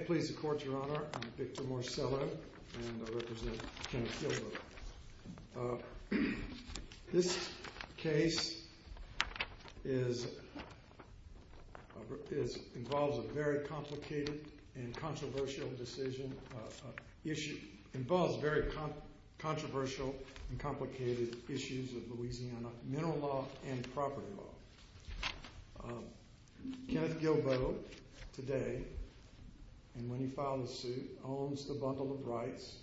I'm pleased to court your honor, I'm Victor Morsello and I represent Kenneth Guilbeau. This case is, involves a very complicated and controversial decision, involves very controversial and complicated issues of Louisiana mineral law and property law. Kenneth Guilbeau today, and when he filed his suit, owns the bundle of rights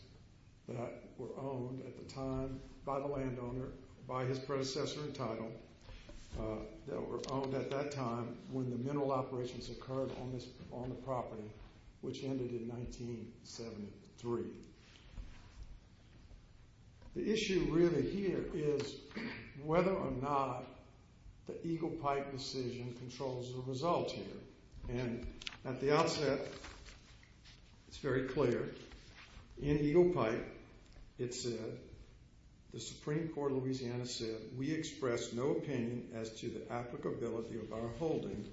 that were owned at the time by the landowner, by his predecessor in title, that were owned at that time when the mineral operations occurred on the property, which ended in 1973. The issue really here is whether or not the Eagle Pipe decision controls the results here. And at the outset, it's very clear, in Eagle Pipe, it said, the Supreme Court of Louisiana said, we express no opinion as to the applicability of our holding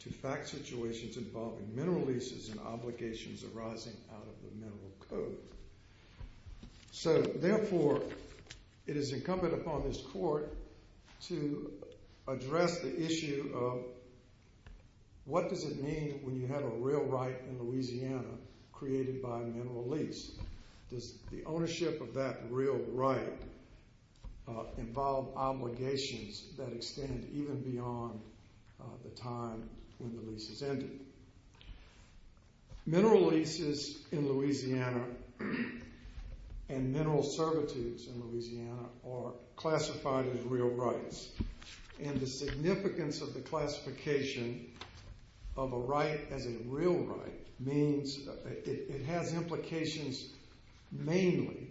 to fact situations involving mineral leases and obligations arising out of the Mineral Code. So, therefore, it is incumbent upon this court to address the issue of what does it mean when you have a real right in Louisiana created by a mineral lease? Does the ownership of that real right involve obligations that extend even beyond the time when the lease is ended? Mineral leases in Louisiana and mineral servitudes in Louisiana are classified as real rights. And the significance of the classification of a right as a real right means it has implications mainly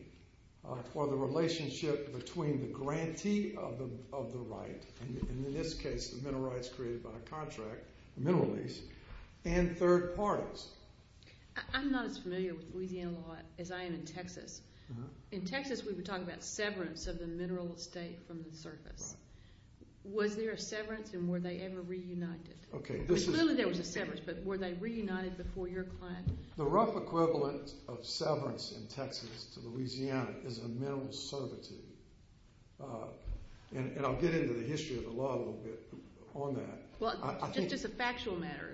for the relationship between the grantee of the right, and in this case, the mineral rights created by a contract, a mineral lease, and third parties. I'm not as familiar with Louisiana law as I am in Texas. In Texas, we were talking about severance of the mineral estate from the surface. Was there a severance, and were they ever reunited? Clearly, there was a severance, but were they reunited before your client? The rough equivalent of severance in Texas to Louisiana is a mineral servitude. And I'll get into the history of the law a little bit on that. Well, just as a factual matter,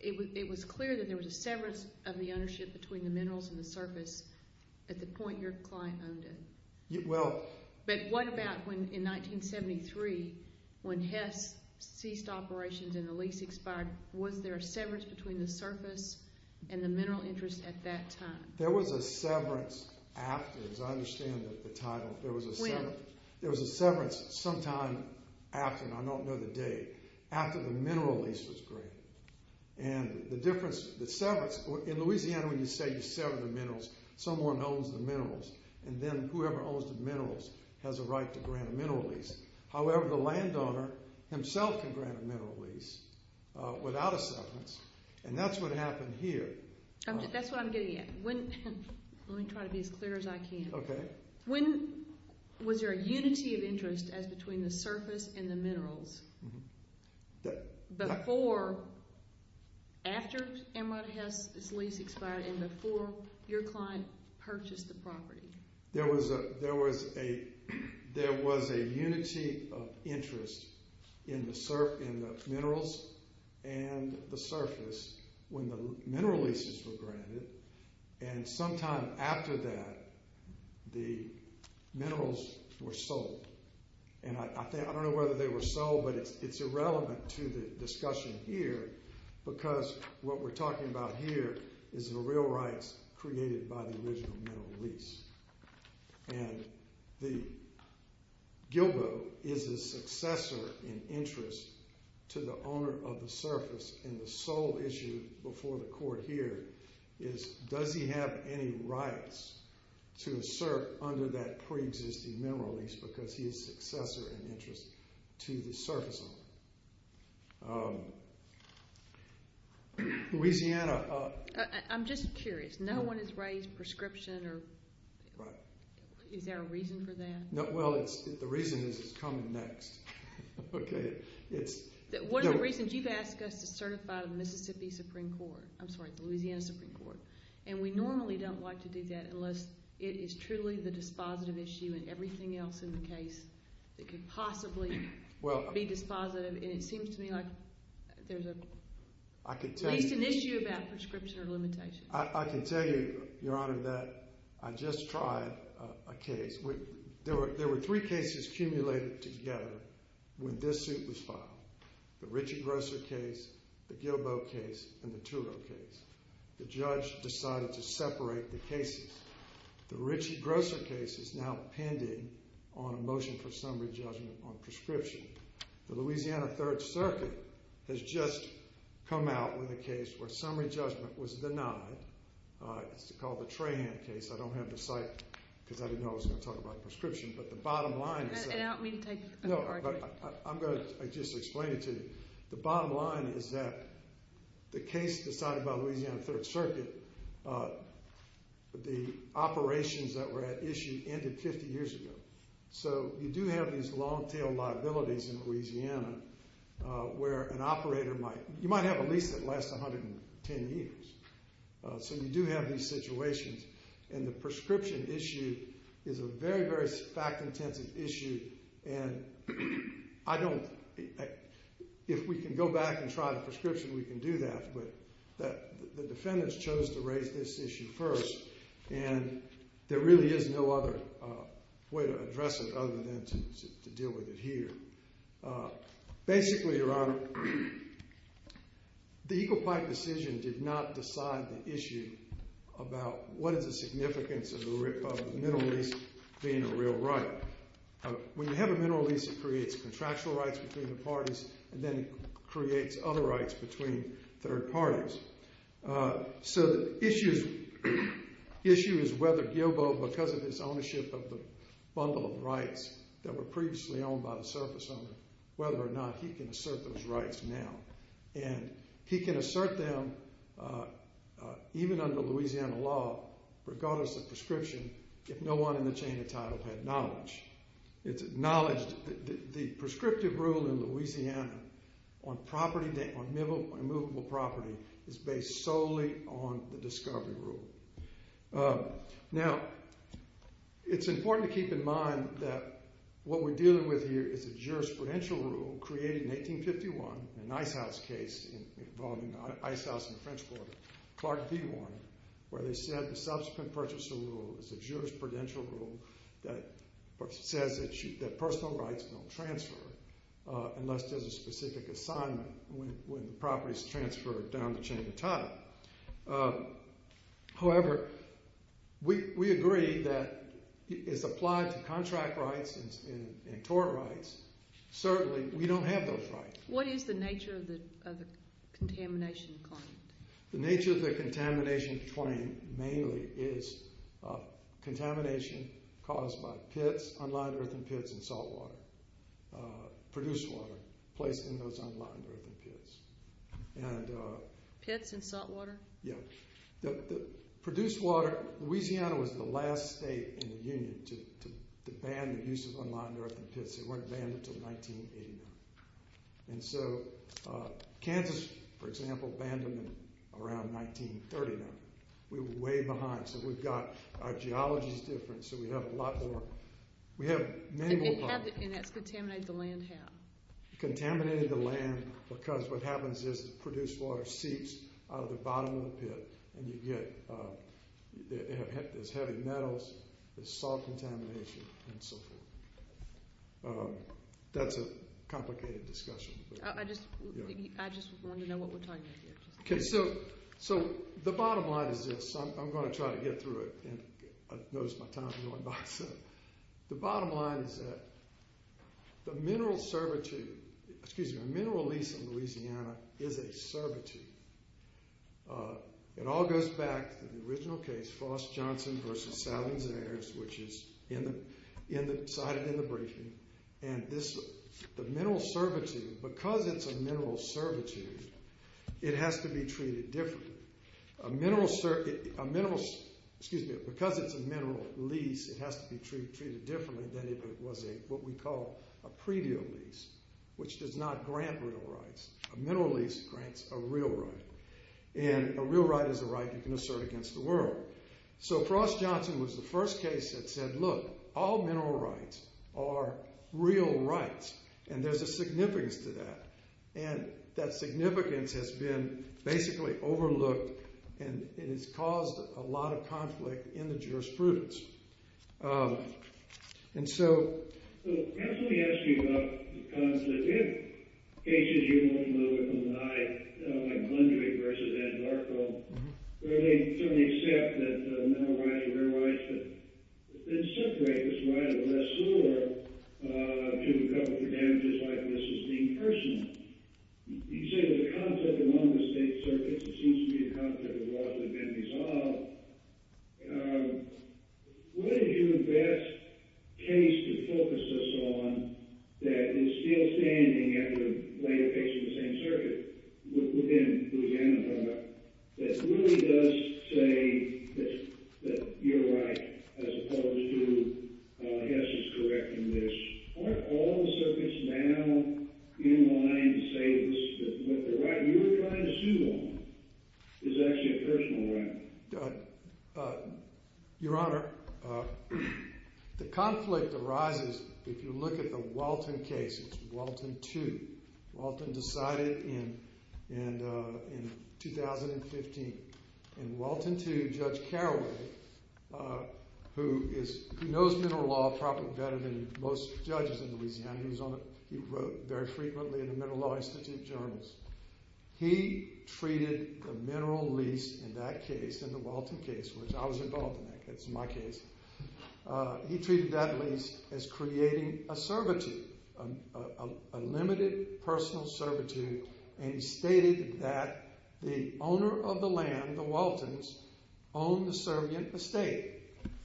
it was clear that there was a severance of the ownership between the minerals and the surface at the point your client owned it. But what about when, in 1973, when Hess ceased operations and the lease expired, was there a severance between the surface and the mineral interest at that time? There was a severance after, as I understand the title. When? There was a severance sometime after, and I don't know the date, after the mineral lease was granted. And the difference, the severance, in Louisiana when you say you sever the minerals, someone owns the minerals, and then whoever owns the minerals has a right to grant a mineral lease. However, the landowner himself can grant a mineral lease without a severance, and that's what happened here. That's what I'm getting at. Let me try to be as clear as I can. Okay. When was there a unity of interest as between the surface and the minerals before, after Enron Hess' lease expired and before your client purchased the property? There was a unity of interest in the minerals and the surface when the mineral leases were granted, and sometime after that the minerals were sold. And I don't know whether they were sold, but it's irrelevant to the discussion here because what we're talking about here is the real rights created by the original mineral lease. And Gilbo is a successor in interest to the owner of the surface, and the sole issue before the court here is does he have any rights to assert under that preexisting mineral lease because he is a successor in interest to the surface owner. Louisiana. I'm just curious. No one has raised prescription, or is there a reason for that? Well, the reason is it's coming next. Okay. One of the reasons, you've asked us to certify the Mississippi Supreme Court, I'm sorry, the Louisiana Supreme Court, and we normally don't like to do that unless it is truly the dispositive issue and everything else in the case that could possibly be dispositive, and it seems to me like there's at least an issue about prescription or limitation. I can tell you, Your Honor, that I just tried a case. There were three cases cumulated together when this suit was filed, the Richard Grosser case, the Gilbo case, and the Turo case. The judge decided to separate the cases. The Richard Grosser case is now pending on a motion for summary judgment on prescription. The Louisiana Third Circuit has just come out with a case where summary judgment was denied. It's called the Trahan case. I don't have the site because I didn't know I was going to talk about prescription, but the bottom line is that the case decided by Louisiana Third Circuit, the operations that were at issue ended 50 years ago. So you do have these long-tail liabilities in Louisiana where an operator might – you might have a lease that lasts 110 years. So you do have these situations, and the prescription issue is a very, very fact-intensive issue, and I don't – if we can go back and try the prescription, we can do that, but the defendants chose to raise this issue first, and there really is no other way to address it other than to deal with it here. Basically, Your Honor, the Eagle Pipe decision did not decide the issue about what is the significance of the mineral lease being a real right. When you have a mineral lease, it creates contractual rights between the parties, and then it creates other rights between third parties. So the issue is whether Gilbo, because of his ownership of the bundle of rights that were previously owned by the surface owner, whether or not he can assert those rights now. And he can assert them even under Louisiana law, regardless of prescription, if no one in the chain of title had knowledge. It's acknowledged that the prescriptive rule in Louisiana on property – on immovable property is based solely on the discovery rule. Now, it's important to keep in mind that what we're dealing with here is a jurisprudential rule created in 1851 in an ice house case involving an ice house on the French border, Clark v. Warner, where they said the subsequent purchaser rule was a jurisprudential rule that says that personal rights don't transfer unless there's a specific assignment when the property is transferred down the chain of title. However, we agree that it's applied to contract rights and tort rights. Certainly, we don't have those rights. What is the nature of the contamination claim? The nature of the contamination claim mainly is contamination caused by pits, unlined earthen pits, and saltwater, produced water placed in those unlined earthen pits. Pits and saltwater? Yeah. Produced water – Louisiana was the last state in the Union to ban the use of unlined earthen pits. They weren't banned until 1989. Kansas, for example, banned them around 1939. We were way behind, so we've got – our geology is different, so we have a lot more. We have many more problems. And that's contaminated the land, how? Contaminated the land because what happens is the produced water seeps out of the bottom of the pit, and you get – there's heavy metals, there's salt contamination, and so forth. That's a complicated discussion. I just wanted to know what we're talking about here. Okay, so the bottom line is this. I'm going to try to get through it, and I've noticed my time is going by. The bottom line is that the mineral servitude – excuse me – the mineral lease in Louisiana is a servitude. It all goes back to the original case, Frost-Johnson v. Salvin-Zayers, which is in the briefing. And this – the mineral servitude – because it's a mineral servitude, it has to be treated differently. A mineral – excuse me – because it's a mineral lease, it has to be treated differently than if it was a – what we call a pre-deal lease, which does not grant real rights. A mineral lease grants a real right, and a real right is a right you can assert against the world. So Frost-Johnson was the first case that said, look, all mineral rights are real rights, and there's a significance to that. And that significance has been basically overlooked, and it has caused a lot of conflict in the jurisprudence. And so – So perhaps let me ask you about the conflict. In cases, you won't know it more than I, like Mundry v. Ed Markel, where they certainly accept that mineral rights are real rights, but then separate this right of the less sore to a couple of damages like this is deemed personal. You say there's a conflict among the state circuits. It seems to be a conflict of laws that have been resolved. What is your best case to focus us on that is still standing after a later case in the same circuit within Louisiana, that really does say that you're right as opposed to Hess is correct in this? Aren't all the circuits now in line to say that what the right you were trying to sue on is actually a personal right? Your Honor, the conflict arises if you look at the Walton case. It's Walton 2. Walton decided in 2015, and Walton 2, Judge Carroll, who knows mineral law probably better than most judges in Louisiana. He wrote very frequently in the Mineral Law Institute journals. He treated the mineral lease in that case, in the Walton case, which I was involved in. That's my case. He treated that lease as creating a servitude, a limited personal servitude, and he stated that the owner of the land, the Waltons, owned the servient estate.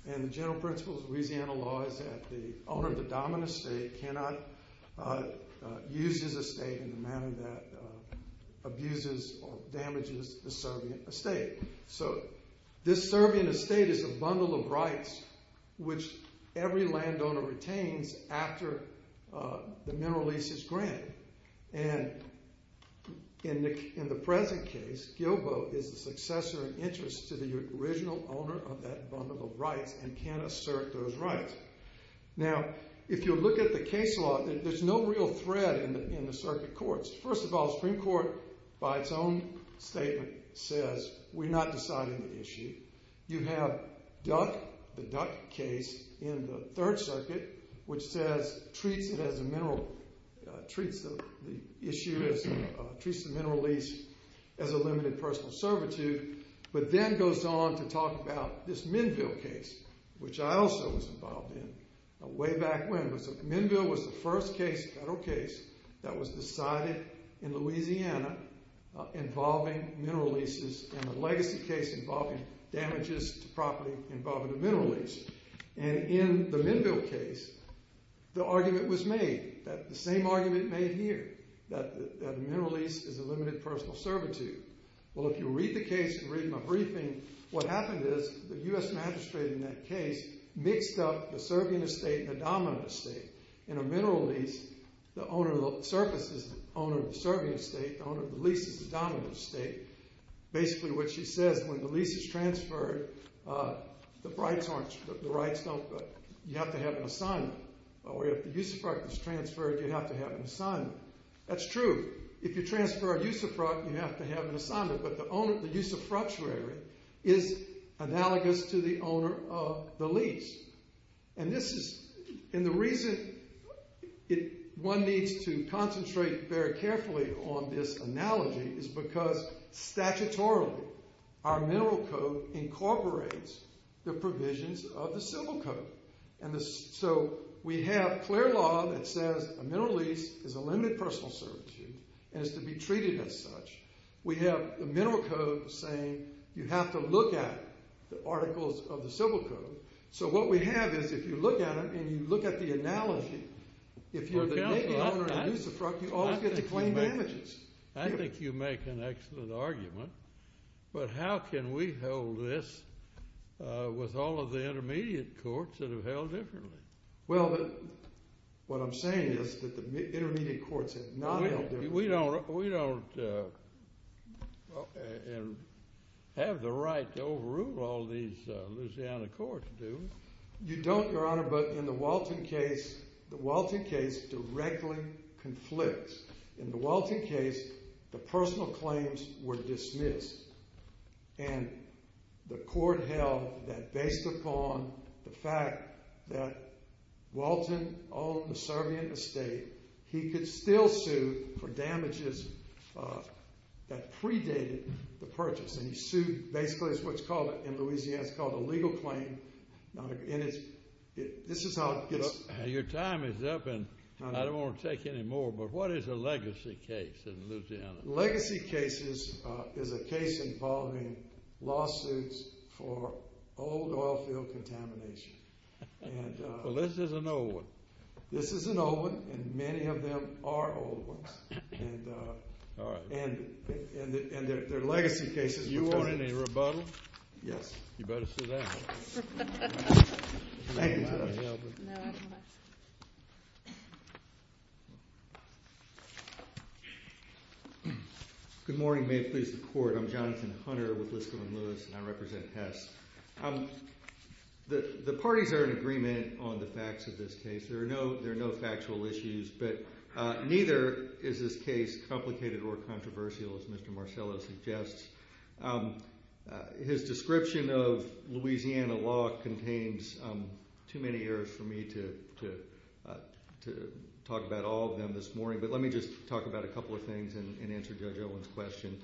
The general principle of Louisiana law is that the owner of the dominant estate cannot use his estate in a manner that abuses or damages the servient estate. This servient estate is a bundle of rights which every landowner retains after the mineral lease is granted. In the present case, Gilbo is the successor in interest to the original owner of that bundle of rights and can assert those rights. Now, if you look at the case law, there's no real thread in the circuit courts. First of all, the Supreme Court, by its own statement, says we're not deciding the issue. You have Duck, the Duck case, in the Third Circuit, which says, treats the mineral lease as a limited personal servitude, but then goes on to talk about this Minville case, which I also was involved in way back when. Minville was the first federal case that was decided in Louisiana involving mineral leases and a legacy case involving damages to property involving the mineral lease. In the Minville case, the argument was made, the same argument made here, that the mineral lease is a limited personal servitude. Well, if you read the case and read my briefing, what happened is the U.S. magistrate in that case mixed up the servient estate and the dominant estate. In a mineral lease, the owner of the service is the owner of the servient estate, the owner of the lease is the dominant estate. Basically, what she says, when the lease is transferred, the rights don't go. You have to have an assignment. If the usufruct is transferred, you have to have an assignment. That's true. If you transfer a usufruct, you have to have an assignment, but the usufructuary is analogous to the owner of the lease. The reason one needs to concentrate very carefully on this analogy is because, statutorily, our mineral code incorporates the provisions of the civil code. We have clear law that says a mineral lease is a limited personal servitude and is to be treated as such. We have the mineral code saying you have to look at the articles of the civil code. What we have is, if you look at it and you look at the analogy, if you're the daily owner of the usufruct, you always get to claim damages. I think you make an excellent argument, but how can we hold this with all of the intermediate courts that have held differently? Well, what I'm saying is that the intermediate courts have not held differently. We don't have the right to overrule all these Louisiana courts do. You don't, Your Honor, but in the Walton case, the Walton case directly conflicts. In the Walton case, the personal claims were dismissed, and the court held that based upon the fact that Walton owned the Serbian estate, he could still sue for damages that predated the purchase, and he sued basically what's called in Louisiana, it's called a legal claim. This is how it gets— Your time is up, and I don't want to take any more, but what is a legacy case in Louisiana? Legacy cases is a case involving lawsuits for old oilfield contamination. Well, this is an old one. This is an old one, and many of them are old ones, and they're legacy cases. You want any rebuttal? Yes. You better sit down. Thank you so much. Good morning. May it please the Court. I'm Jonathan Hunter with Liskell and Lewis, and I represent Hess. The parties are in agreement on the facts of this case. There are no factual issues, but neither is this case complicated or controversial, as Mr. Marcello suggests. His description of Louisiana law contains too many years for me to talk about all of them this morning, but let me just talk about a couple of things and answer Judge Owen's question.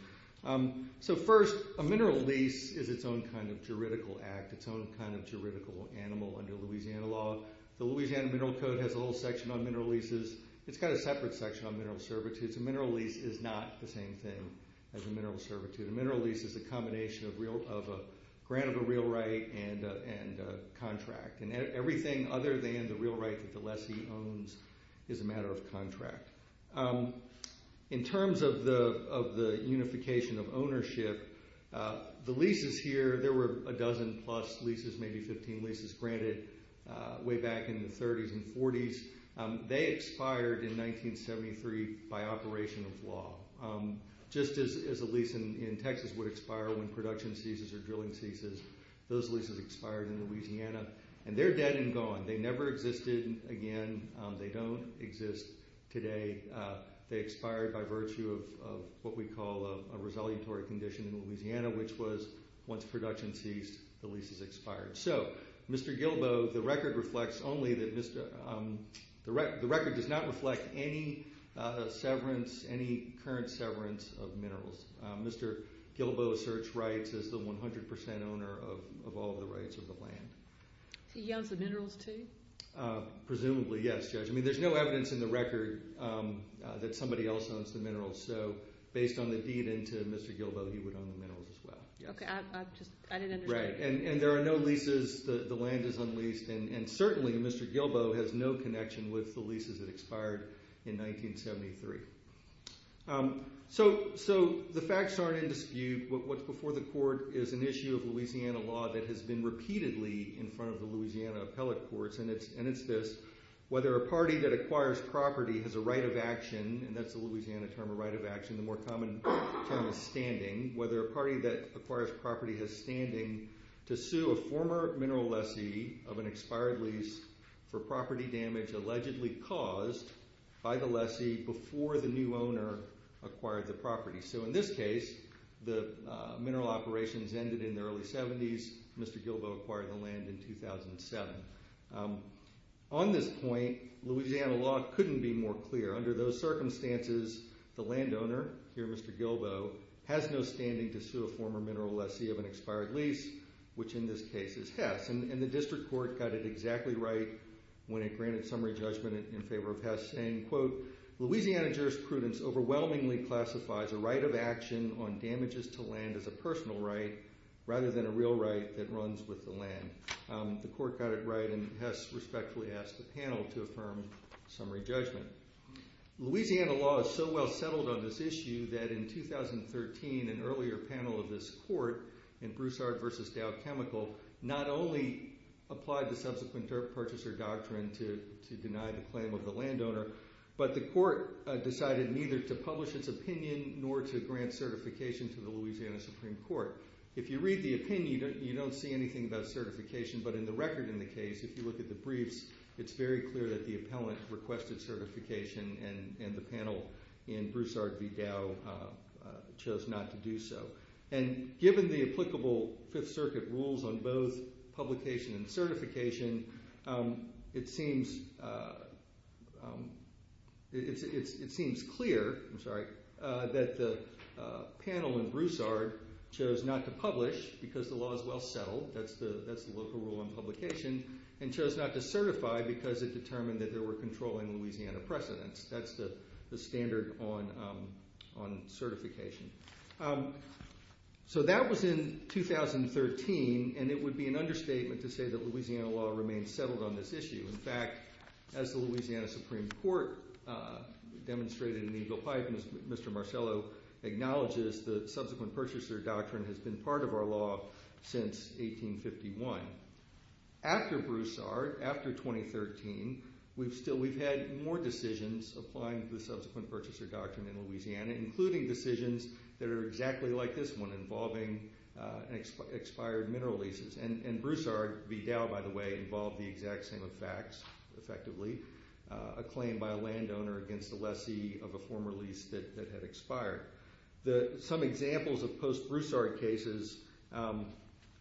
So first, a mineral lease is its own kind of juridical act, its own kind of juridical animal under Louisiana law. The Louisiana Mineral Code has a little section on mineral leases. It's got a separate section on mineral servitude, so a mineral lease is not the same thing as a mineral servitude. A mineral lease is a combination of a grant of a real right and a contract, and everything other than the real right that the lessee owns is a matter of contract. In terms of the unification of ownership, the leases here, there were a dozen plus leases, maybe 15 leases, granted way back in the 30s and 40s. They expired in 1973 by operation of law, just as a lease in Texas would expire when production ceases or drilling ceases. Those leases expired in Louisiana, and they're dead and gone. They never existed again. They don't exist today. They expired by virtue of what we call a resolutory condition in Louisiana, which was once production ceased, the leases expired. So, Mr. Gilboa, the record does not reflect any current severance of minerals. Mr. Gilboa asserts rights as the 100% owner of all the rights of the land. He owns the minerals, too? Presumably, yes, Judge. I mean, there's no evidence in the record that somebody else owns the minerals, so based on the deed into Mr. Gilboa, he would own the minerals as well. Okay, I didn't understand. Right, and there are no leases. The land is unleased, and certainly Mr. Gilboa has no connection with the leases that expired in 1973. So, the facts aren't in dispute. What's before the court is an issue of Louisiana law that has been repeatedly in front of the Louisiana appellate courts, and it's this, whether a party that acquires property has a right of action, and that's the Louisiana term, a right of action, the more common term is standing, whether a party that acquires property has standing to sue a former mineral lessee of an expired lease for property damage allegedly caused by the lessee before the new owner acquired the property. So, in this case, the mineral operations ended in the early 70s. Mr. Gilboa acquired the land in 2007. On this point, Louisiana law couldn't be more clear. Under those circumstances, the landowner, here Mr. Gilboa, has no standing to sue a former mineral lessee of an expired lease, which in this case is Hess, and the district court got it exactly right when it granted summary judgment in favor of Hess, saying, quote, Louisiana jurisprudence overwhelmingly classifies a right of action on damages to land as a personal right rather than a real right that runs with the land. The court got it right, and Hess respectfully asked the panel to affirm summary judgment. Louisiana law is so well settled on this issue that in 2013, an earlier panel of this court in Broussard v. Dow Chemical not only applied the subsequent dirt purchaser doctrine to deny the claim of the landowner, but the court decided neither to publish its opinion nor to grant certification to the Louisiana Supreme Court. If you read the opinion, you don't see anything about certification. But in the record in the case, if you look at the briefs, it's very clear that the appellant requested certification and the panel in Broussard v. Dow chose not to do so. And given the applicable Fifth Circuit rules on both publication and certification, it seems clear that the panel in Broussard chose not to publish because the law is well settled, that's the local rule on publication, and chose not to certify because it determined that there were controlling Louisiana precedents. That's the standard on certification. So that was in 2013, and it would be an understatement to say that Louisiana law remains settled on this issue. In fact, as the Louisiana Supreme Court demonstrated in Eagle Pipe, Mr. Marcello acknowledges the subsequent purchaser doctrine has been part of our law since 1851. After Broussard, after 2013, we've had more decisions applying the subsequent purchaser doctrine in Louisiana, including decisions that are exactly like this one involving expired mineral leases. And Broussard v. Dow, by the way, involved the exact same effects, effectively, a claim by a landowner against a lessee of a former lease that had expired. Some examples of post-Broussard cases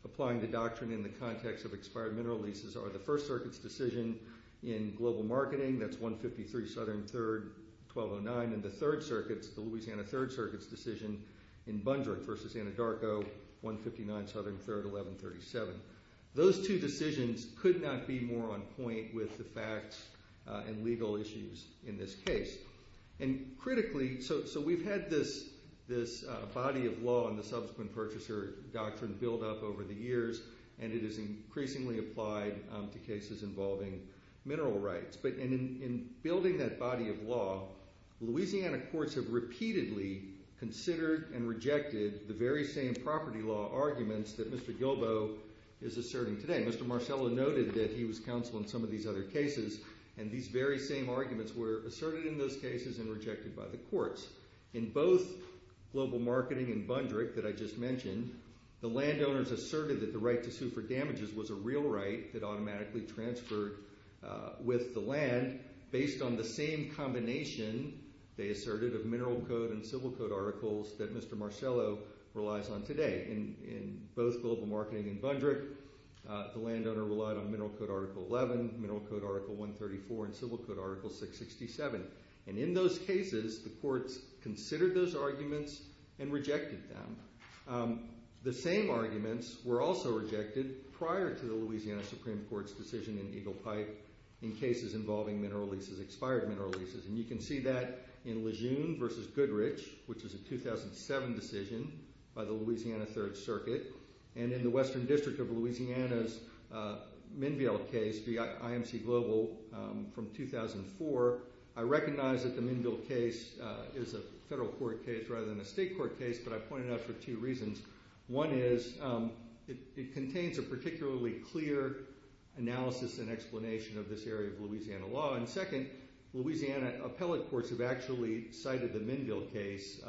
applying the doctrine in the context of expired mineral leases are the First Circuit's decision in Global Marketing, that's 153 Southern 3rd, 1209, and the Third Circuit's, the Louisiana Third Circuit's decision in Bundrick v. Anadarko, 159 Southern 3rd, 1137. Those two decisions could not be more on point with the facts and legal issues in this case. And critically, so we've had this body of law and the subsequent purchaser doctrine build up over the years, and it is increasingly applied to cases involving mineral rights. But in building that body of law, Louisiana courts have repeatedly considered and rejected the very same property law arguments that Mr. Gilbo is asserting today. Mr. Marcello noted that he was counsel in some of these other cases, and these very same arguments were asserted in those cases and rejected by the courts. In both Global Marketing and Bundrick that I just mentioned, the landowners asserted that the right to sue for damages was a real right that automatically transferred with the land based on the same combination, they asserted, of mineral code and civil code articles that Mr. Marcello relies on today. In both Global Marketing and Bundrick, the landowner relied on mineral code article 11, mineral code article 134, and civil code article 667. And in those cases, the courts considered those arguments and rejected them. The same arguments were also rejected prior to the Louisiana Supreme Court's decision in Eagle Pipe in cases involving mineral leases, expired mineral leases. And you can see that in Lejeune v. Goodrich, which is a 2007 decision by the Louisiana Third Circuit, and in the Western District of Louisiana's Minville case, the IMC Global, from 2004. I recognize that the Minville case is a federal court case rather than a state court case, but I point it out for two reasons. One is it contains a particularly clear analysis and explanation of this area of Louisiana law, and second, Louisiana appellate courts have actually cited the Minville case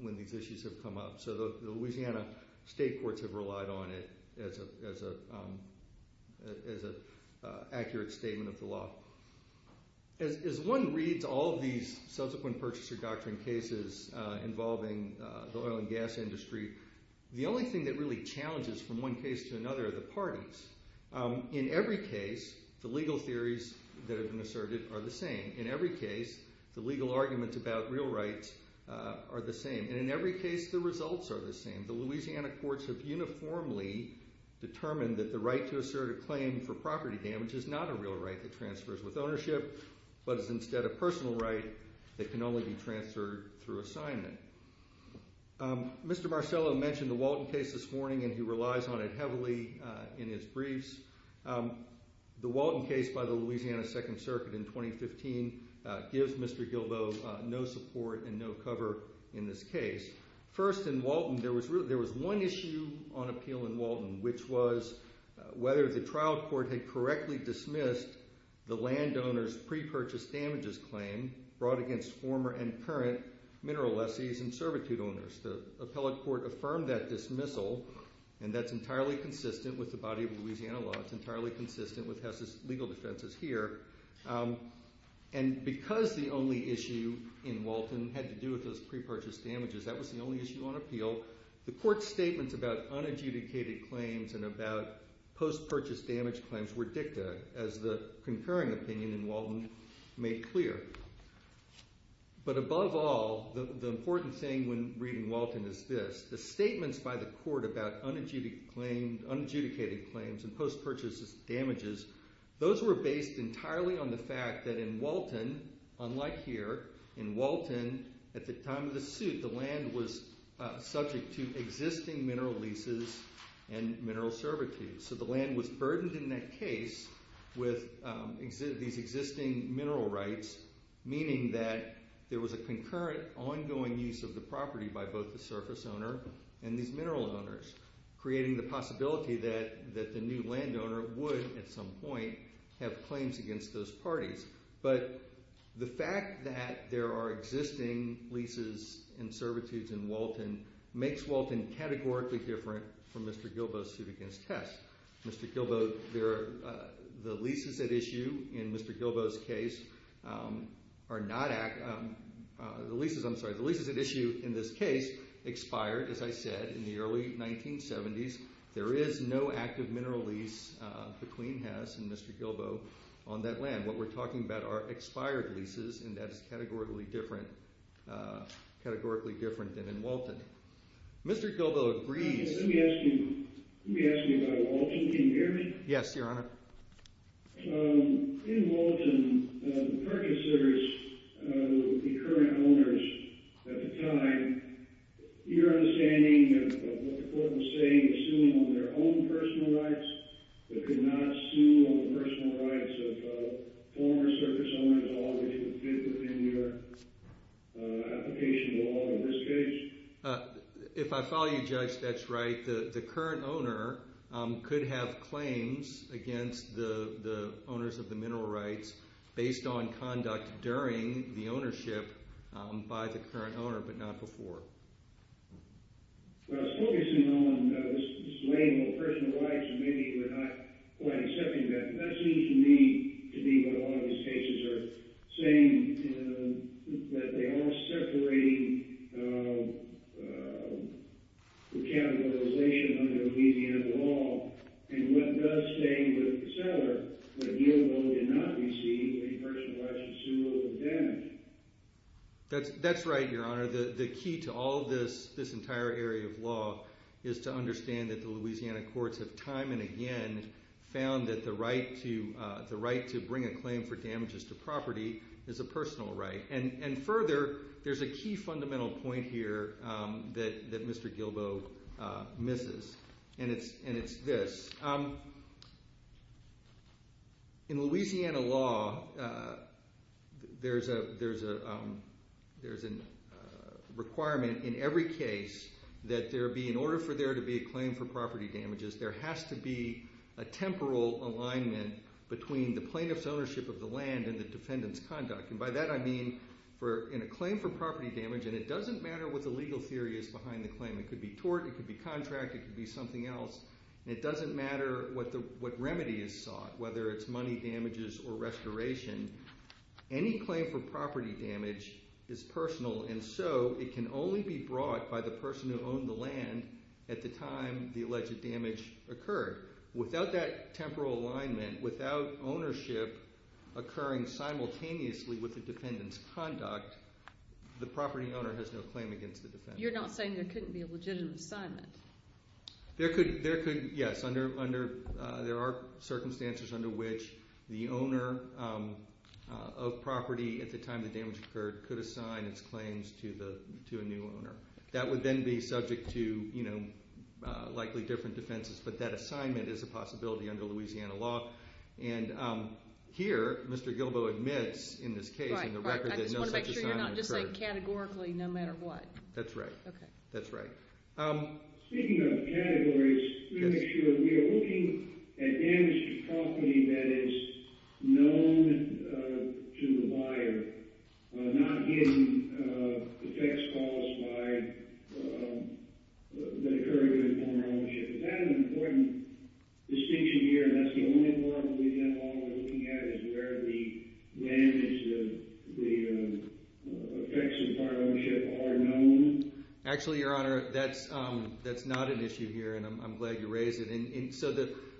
when these issues have come up, so the Louisiana state courts have relied on it as an accurate statement of the law. As one reads all of these subsequent purchaser doctrine cases involving the oil and gas industry, the only thing that really challenges from one case to another are the parties. In every case, the legal theories that have been asserted are the same. In every case, the legal arguments about real rights are the same. And in every case, the results are the same. The Louisiana courts have uniformly determined that the right to assert a claim for property damage is not a real right that transfers with ownership, but is instead a personal right that can only be transferred through assignment. Mr. Marcello mentioned the Walton case this morning, and he relies on it heavily in his briefs. The Walton case by the Louisiana Second Circuit in 2015 gives Mr. Gilbo no support and no cover in this case. First, in Walton, there was one issue on appeal in Walton, which was whether the trial court had correctly dismissed the landowner's pre-purchase damages claim brought against former and current mineral lessees and servitude owners. The appellate court affirmed that dismissal, and that's entirely consistent with the body of Louisiana law. It's entirely consistent with HESA's legal defenses here. And because the only issue in Walton had to do with those pre-purchase damages, that was the only issue on appeal, the court's statements about unadjudicated claims and about post-purchase damage claims were dicta, as the concurring opinion in Walton made clear. But above all, the important thing when reading Walton is this. The statements by the court about unadjudicated claims and post-purchase damages, those were based entirely on the fact that in Walton, unlike here, in Walton, at the time of the suit, the land was subject to existing mineral leases and mineral servitude. So the land was burdened in that case with these existing mineral rights, meaning that there was a concurrent, ongoing use of the property by both the surface owner and these mineral owners, creating the possibility that the new landowner would, at some point, have claims against those parties. But the fact that there are existing leases and servitudes in Walton makes Walton categorically different from Mr. Gilbo's suit against HESA. Mr. Gilbo, the leases at issue in Mr. Gilbo's case are not, the leases, I'm sorry, the leases at issue in this case expired, as I said, in the early 1970s. There is no active mineral lease between HESA and Mr. Gilbo on that land. What we're talking about are expired leases, and that is categorically different than in Walton. Mr. Gilbo agrees. Let me ask you about Walton. Can you hear me? Yes, Your Honor. In Walton, the purchasers, the current owners at the time, your understanding of what the court was saying, assuming on their own personal rights, that could not sue on the personal rights of former surface owners at all, which would fit within your application to Walton in this case? If I follow you, Judge, that's right. The current owner could have claims against the owners of the mineral rights based on conduct during the ownership by the current owner, but not before. I was focusing on this label of personal rights, and maybe you're not quite accepting that, but that seems to me to be what a lot of these cases are saying, that they are separating the categorization under the median of the law, and what does say with the seller that Gilbo did not receive any personal rights to sue over the damage. That's right, Your Honor. The key to all this entire area of law is to understand that the Louisiana courts have time and again found that the right to bring a claim for damages to property is a personal right. And further, there's a key fundamental point here that Mr. Gilbo misses, and it's this. In Louisiana law, there's a requirement in every case that in order for there to be a claim for property damages, there has to be a temporal alignment between the plaintiff's ownership of the land and the defendant's conduct. And by that I mean in a claim for property damage, and it doesn't matter what the legal theory is behind the claim. It could be tort, it could be contract, it could be something else. It doesn't matter what remedy is sought, whether it's money damages or restoration. Any claim for property damage is personal, and so it can only be brought by the person who owned the land at the time the alleged damage occurred. Without that temporal alignment, without ownership occurring simultaneously with the defendant's conduct, the property owner has no claim against the defendant. You're not saying there couldn't be a legitimate assignment? There could, yes. There are circumstances under which the owner of property at the time the damage occurred could assign its claims to a new owner. That would then be subject to likely different defenses, but that assignment is a possibility under Louisiana law. And here, Mr. Gilbo admits in this case in the record that no such assignment occurred. I just want to make sure you're not just saying categorically no matter what. That's right. Speaking of categories, let me make sure we are looking at damage to property that is known to the buyer, not in effects caused by the occurrence of informer ownership. Is that an important distinction here, and that's the only part of Louisiana law we're looking at, where the damage, the effects of informer ownership are known? Actually, Your Honor, that's not an issue here, and I'm glad you raised it. So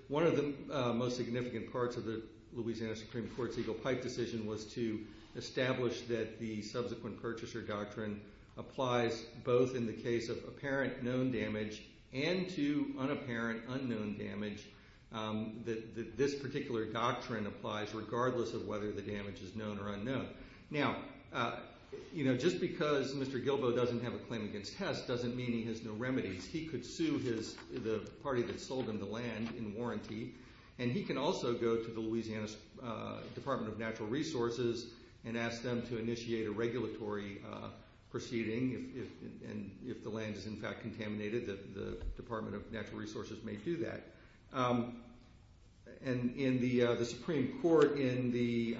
one of the most significant parts of the Louisiana Supreme Court's Eagle Pipe decision was to establish that the subsequent purchaser doctrine applies both in the case of apparent known damage and to unapparent unknown damage, that this particular doctrine applies regardless of whether the damage is known or unknown. Now, just because Mr. Gilbo doesn't have a claim against Hess doesn't mean he has no remedies. He could sue the party that sold him the land in warranty, and he can also go to the Louisiana Department of Natural Resources and ask them to initiate a regulatory proceeding if the land is in fact contaminated, the Department of Natural Resources may do that. And the Supreme Court in the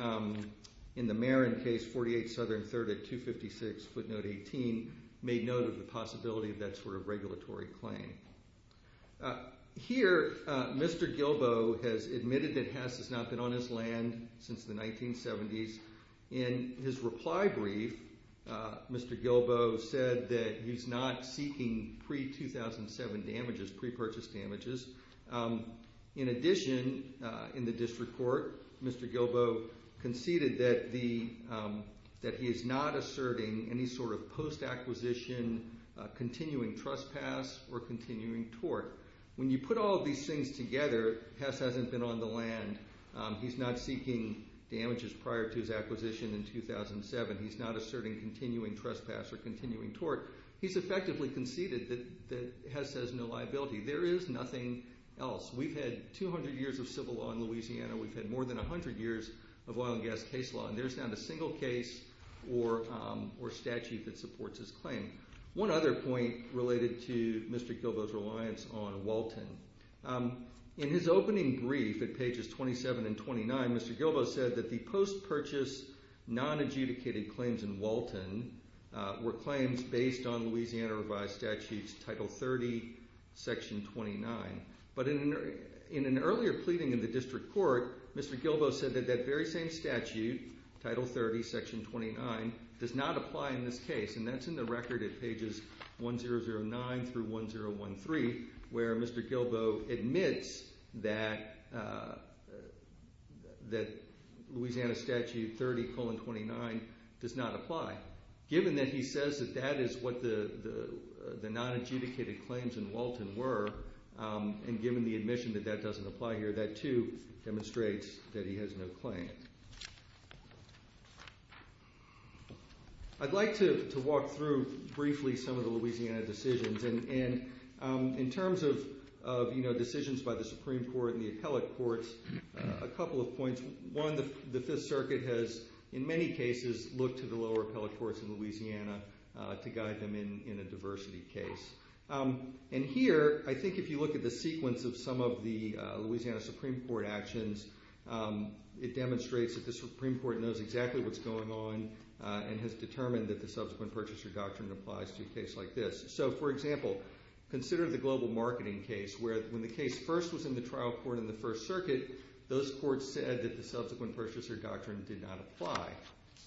Marin case, 48 Southern 3rd at 256 footnote 18, made note of the possibility of that sort of regulatory claim. Here, Mr. Gilbo has admitted that Hess has not been on his land since the 1970s. In his reply brief, Mr. Gilbo said that he's not seeking pre-2007 damages, pre-purchase damages. In addition, in the district court, Mr. Gilbo conceded that he is not asserting any sort of post-acquisition, continuing trespass, or continuing tort. When you put all of these things together, Hess hasn't been on the land. He's not seeking damages prior to his acquisition in 2007. He's not asserting continuing trespass or continuing tort. He's effectively conceded that Hess has no liability. There is nothing else. We've had 200 years of civil law in Louisiana. We've had more than 100 years of oil and gas case law, and there's not a single case or statute that supports his claim. One other point related to Mr. Gilbo's reliance on Walton. In his opening brief at pages 27 and 29, Mr. Gilbo said that the post-purchase, non-adjudicated claims in Walton were claims based on Louisiana revised statutes, Title 30, Section 29. But in an earlier pleading in the district court, Mr. Gilbo said that that very same statute, Title 30, Section 29, does not apply in this case, and that's in the record at pages 1009 through 1013, where Mr. Gilbo admits that Louisiana Statute 30, colon 29, does not apply. Given that he says that that is what the non-adjudicated claims in Walton were, and given the admission that that doesn't apply here, that too demonstrates that he has no claim. I'd like to walk through briefly some of the Louisiana decisions. In terms of decisions by the Supreme Court and the appellate courts, a couple of points. One, the Fifth Circuit has in many cases looked to the lower appellate courts in Louisiana to guide them in a diversity case. Here, I think if you look at the sequence of some of the Louisiana Supreme Court actions, it demonstrates that the Supreme Court knows exactly what's going on and has determined that the subsequent purchaser doctrine applies to a case like this. For example, consider the global marketing case where when the case first was in the trial court in the First Circuit, those courts said that the subsequent purchaser doctrine did not apply.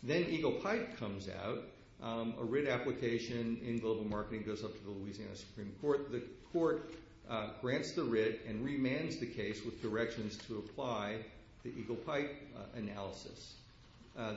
Then Eagle Pipe comes out. A writ application in global marketing goes up to the Louisiana Supreme Court. The court grants the writ and remands the case with directions to apply the Eagle Pipe analysis.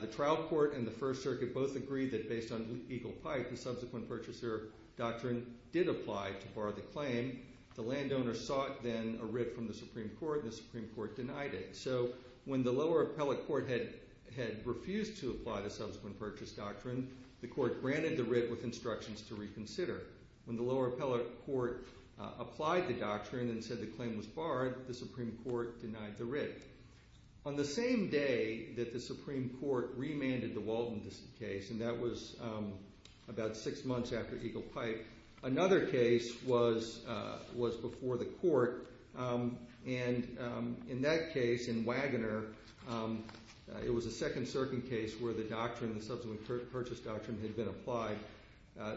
The trial court and the First Circuit both agree that based on Eagle Pipe, the subsequent purchaser doctrine did apply to bar the claim. The landowner sought then a writ from the Supreme Court, and the Supreme Court denied it. So when the lower appellate court had refused to apply the subsequent purchase doctrine, the court granted the writ with instructions to reconsider. When the lower appellate court applied the doctrine and said the claim was barred, the Supreme Court denied the writ. On the same day that the Supreme Court remanded the Walton case, and that was about six months after Eagle Pipe, another case was before the court, and in that case, in Wagoner, it was a second circuit case where the doctrine, the subsequent purchase doctrine, had been applied.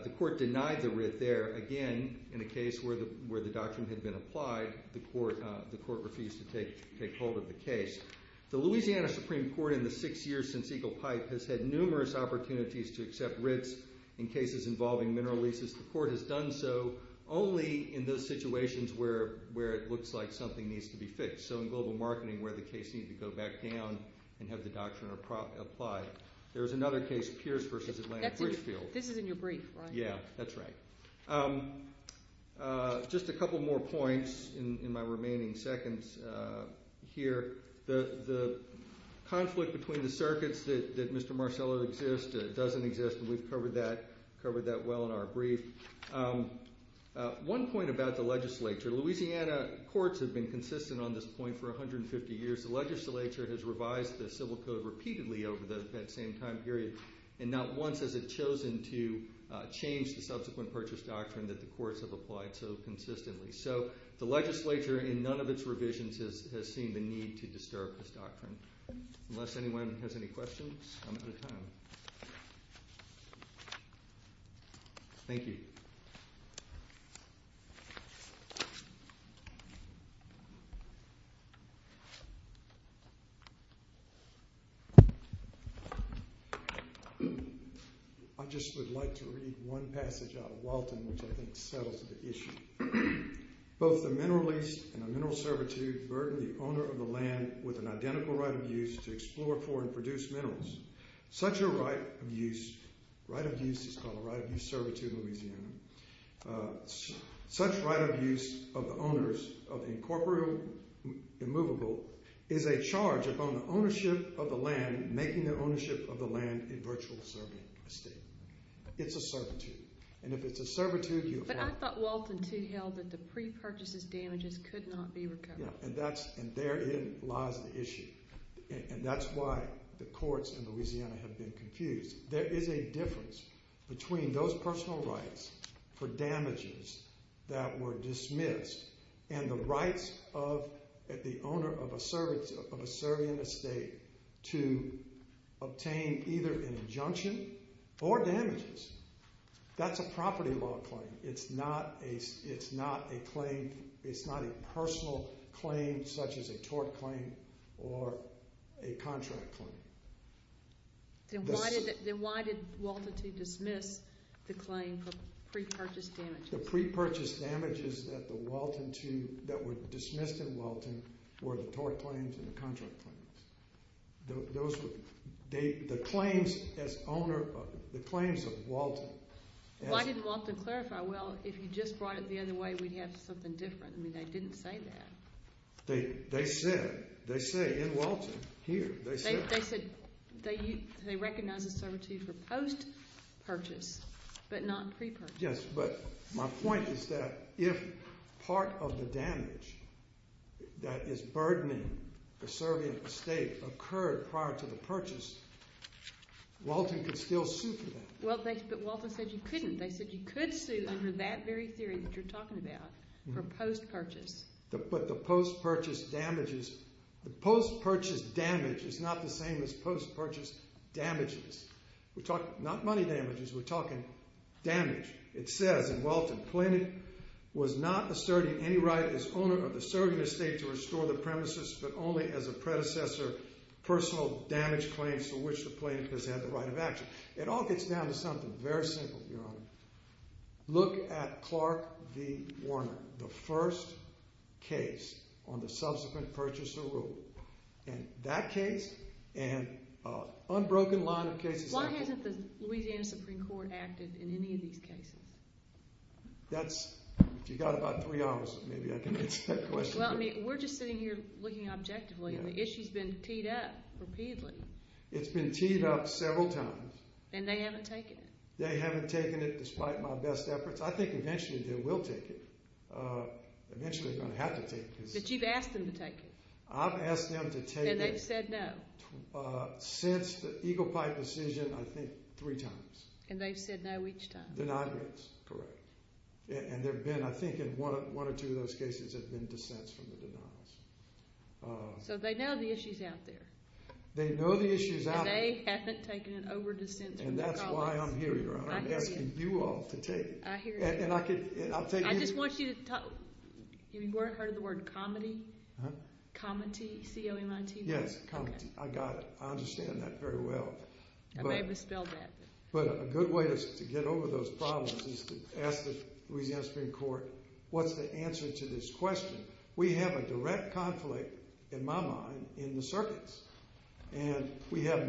The court denied the writ there. Again, in a case where the doctrine had been applied, the court refused to take hold of the case. The Louisiana Supreme Court in the six years since Eagle Pipe has had numerous opportunities to accept writs in cases involving mineral leases. The court has done so only in those situations where it looks like something needs to be fixed, so in global marketing where the case needed to go back down and have the doctrine applied. There was another case, Pierce v. Atlanta-Bridgefield. This is in your brief, right? Yeah, that's right. Just a couple more points in my remaining seconds here. The conflict between the circuits that Mr. Marcello exists doesn't exist, and we've covered that well in our brief. One point about the legislature. Louisiana courts have been consistent on this point for 150 years. The legislature has revised the civil code repeatedly over that same time period, and not once has it chosen to change the subsequent purchase doctrine that the courts have applied so consistently. So the legislature, in none of its revisions, has seen the need to disturb this doctrine. Unless anyone has any questions, I'm out of time. Thank you. I just would like to read one passage out of Walton which I think settles the issue. Both the mineral lease and the mineral servitude burden the owner of the land with an identical right of use to explore for and produce minerals. Such a right of use is called a right of use servitude in Louisiana. Such right of use of the owners of the incorporeal immovable is a charge upon the ownership of the land, making the ownership of the land a virtual serving estate. It's a servitude. And if it's a servitude, you apply it. But I thought Walton, too, held that the pre-purchase damages could not be recovered. And therein lies the issue. And that's why the courts in Louisiana have been confused. There is a difference between those personal rights for damages that were dismissed and the rights of the owner of a serving estate to obtain either an injunction or damages. That's a property law claim. It's not a personal claim such as a tort claim or a contract claim. Then why did Walton, too, dismiss the claim for pre-purchase damages? The pre-purchase damages that were dismissed in Walton were the tort claims and the contract claims. The claims of Walton. Why didn't Walton clarify, well, if you just brought it the other way, we'd have something different? I mean, they didn't say that. They said. They say in Walton here. They said they recognize the servitude for post-purchase but not pre-purchase. Yes, but my point is that if part of the damage that is burdening the serving estate occurred prior to the purchase, Walton could still sue for that. Well, but Walton said you couldn't. They said you could sue under that very theory that you're talking about for post-purchase. But the post-purchase damages. The post-purchase damage is not the same as post-purchase damages. We're talking not money damages. We're talking damage. It says in Walton, Pliny was not asserting any right as owner of the serving estate to restore the premises but only as a predecessor personal damage claims for which the plaintiff has had the right of action. It all gets down to something very simple, Your Honor. Look at Clark v. Warner, the first case on the subsequent purchaser rule. And that case and an unbroken line of cases. Why hasn't the Louisiana Supreme Court acted in any of these cases? That's, if you've got about three hours, maybe I can answer that question. Well, I mean, we're just sitting here looking objectively and the issue's been teed up repeatedly. It's been teed up several times. And they haven't taken it. They haven't taken it despite my best efforts. I think eventually they will take it. Eventually they're going to have to take it. But you've asked them to take it. I've asked them to take it. And they've said no. Since the Eagle Pipe decision, I think, three times. And they've said no each time. Denied rents, correct. And there have been, I think, in one or two of those cases have been dissents from the denials. So they know the issue's out there. They know the issue's out there. And they haven't taken it over dissents from the colleagues. And that's why I'm here, Your Honor. I'm asking you all to take it. I hear you. And I'll take anything. I just want you to talk. You've heard of the word comity? Huh? Comity. C-O-M-I-T-Y. Yes, comity. I got it. I understand that very well. I may have misspelled that. But a good way to get over those problems is to ask the Louisiana Supreme Court, what's the answer to this question? We have a direct conflict, in my mind, in the circuits. And we have,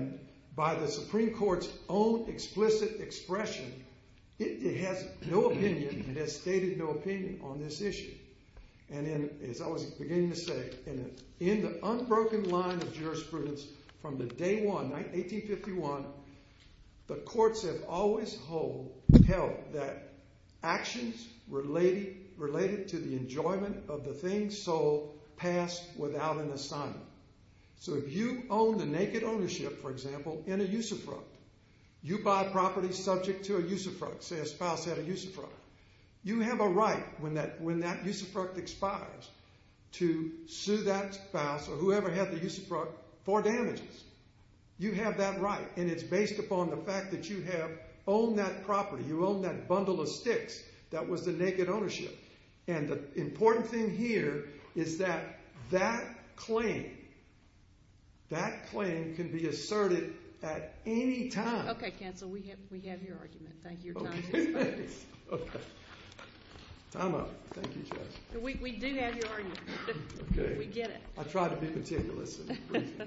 by the Supreme Court's own explicit expression, it has no opinion. It has stated no opinion on this issue. And as I was beginning to say, in the unbroken line of jurisprudence from the day one, 1851, the courts have always held that actions related to the enjoyment of the thing sold pass without an assignment. So if you own the naked ownership, for example, in a usufruct, you buy property subject to a usufruct, say a spouse had a usufruct. You have a right when that usufruct expires to sue that spouse or whoever had the usufruct for damages. You have that right, and it's based upon the fact that you have owned that property, you owned that bundle of sticks that was the naked ownership. And the important thing here is that that claim, that claim can be asserted at any time. Okay, counsel, we have your argument. Thank you for your time. Okay, thanks. Okay. Time out. Thank you, Judge. We do have your argument. We get it. I try to be meticulous. Thank you.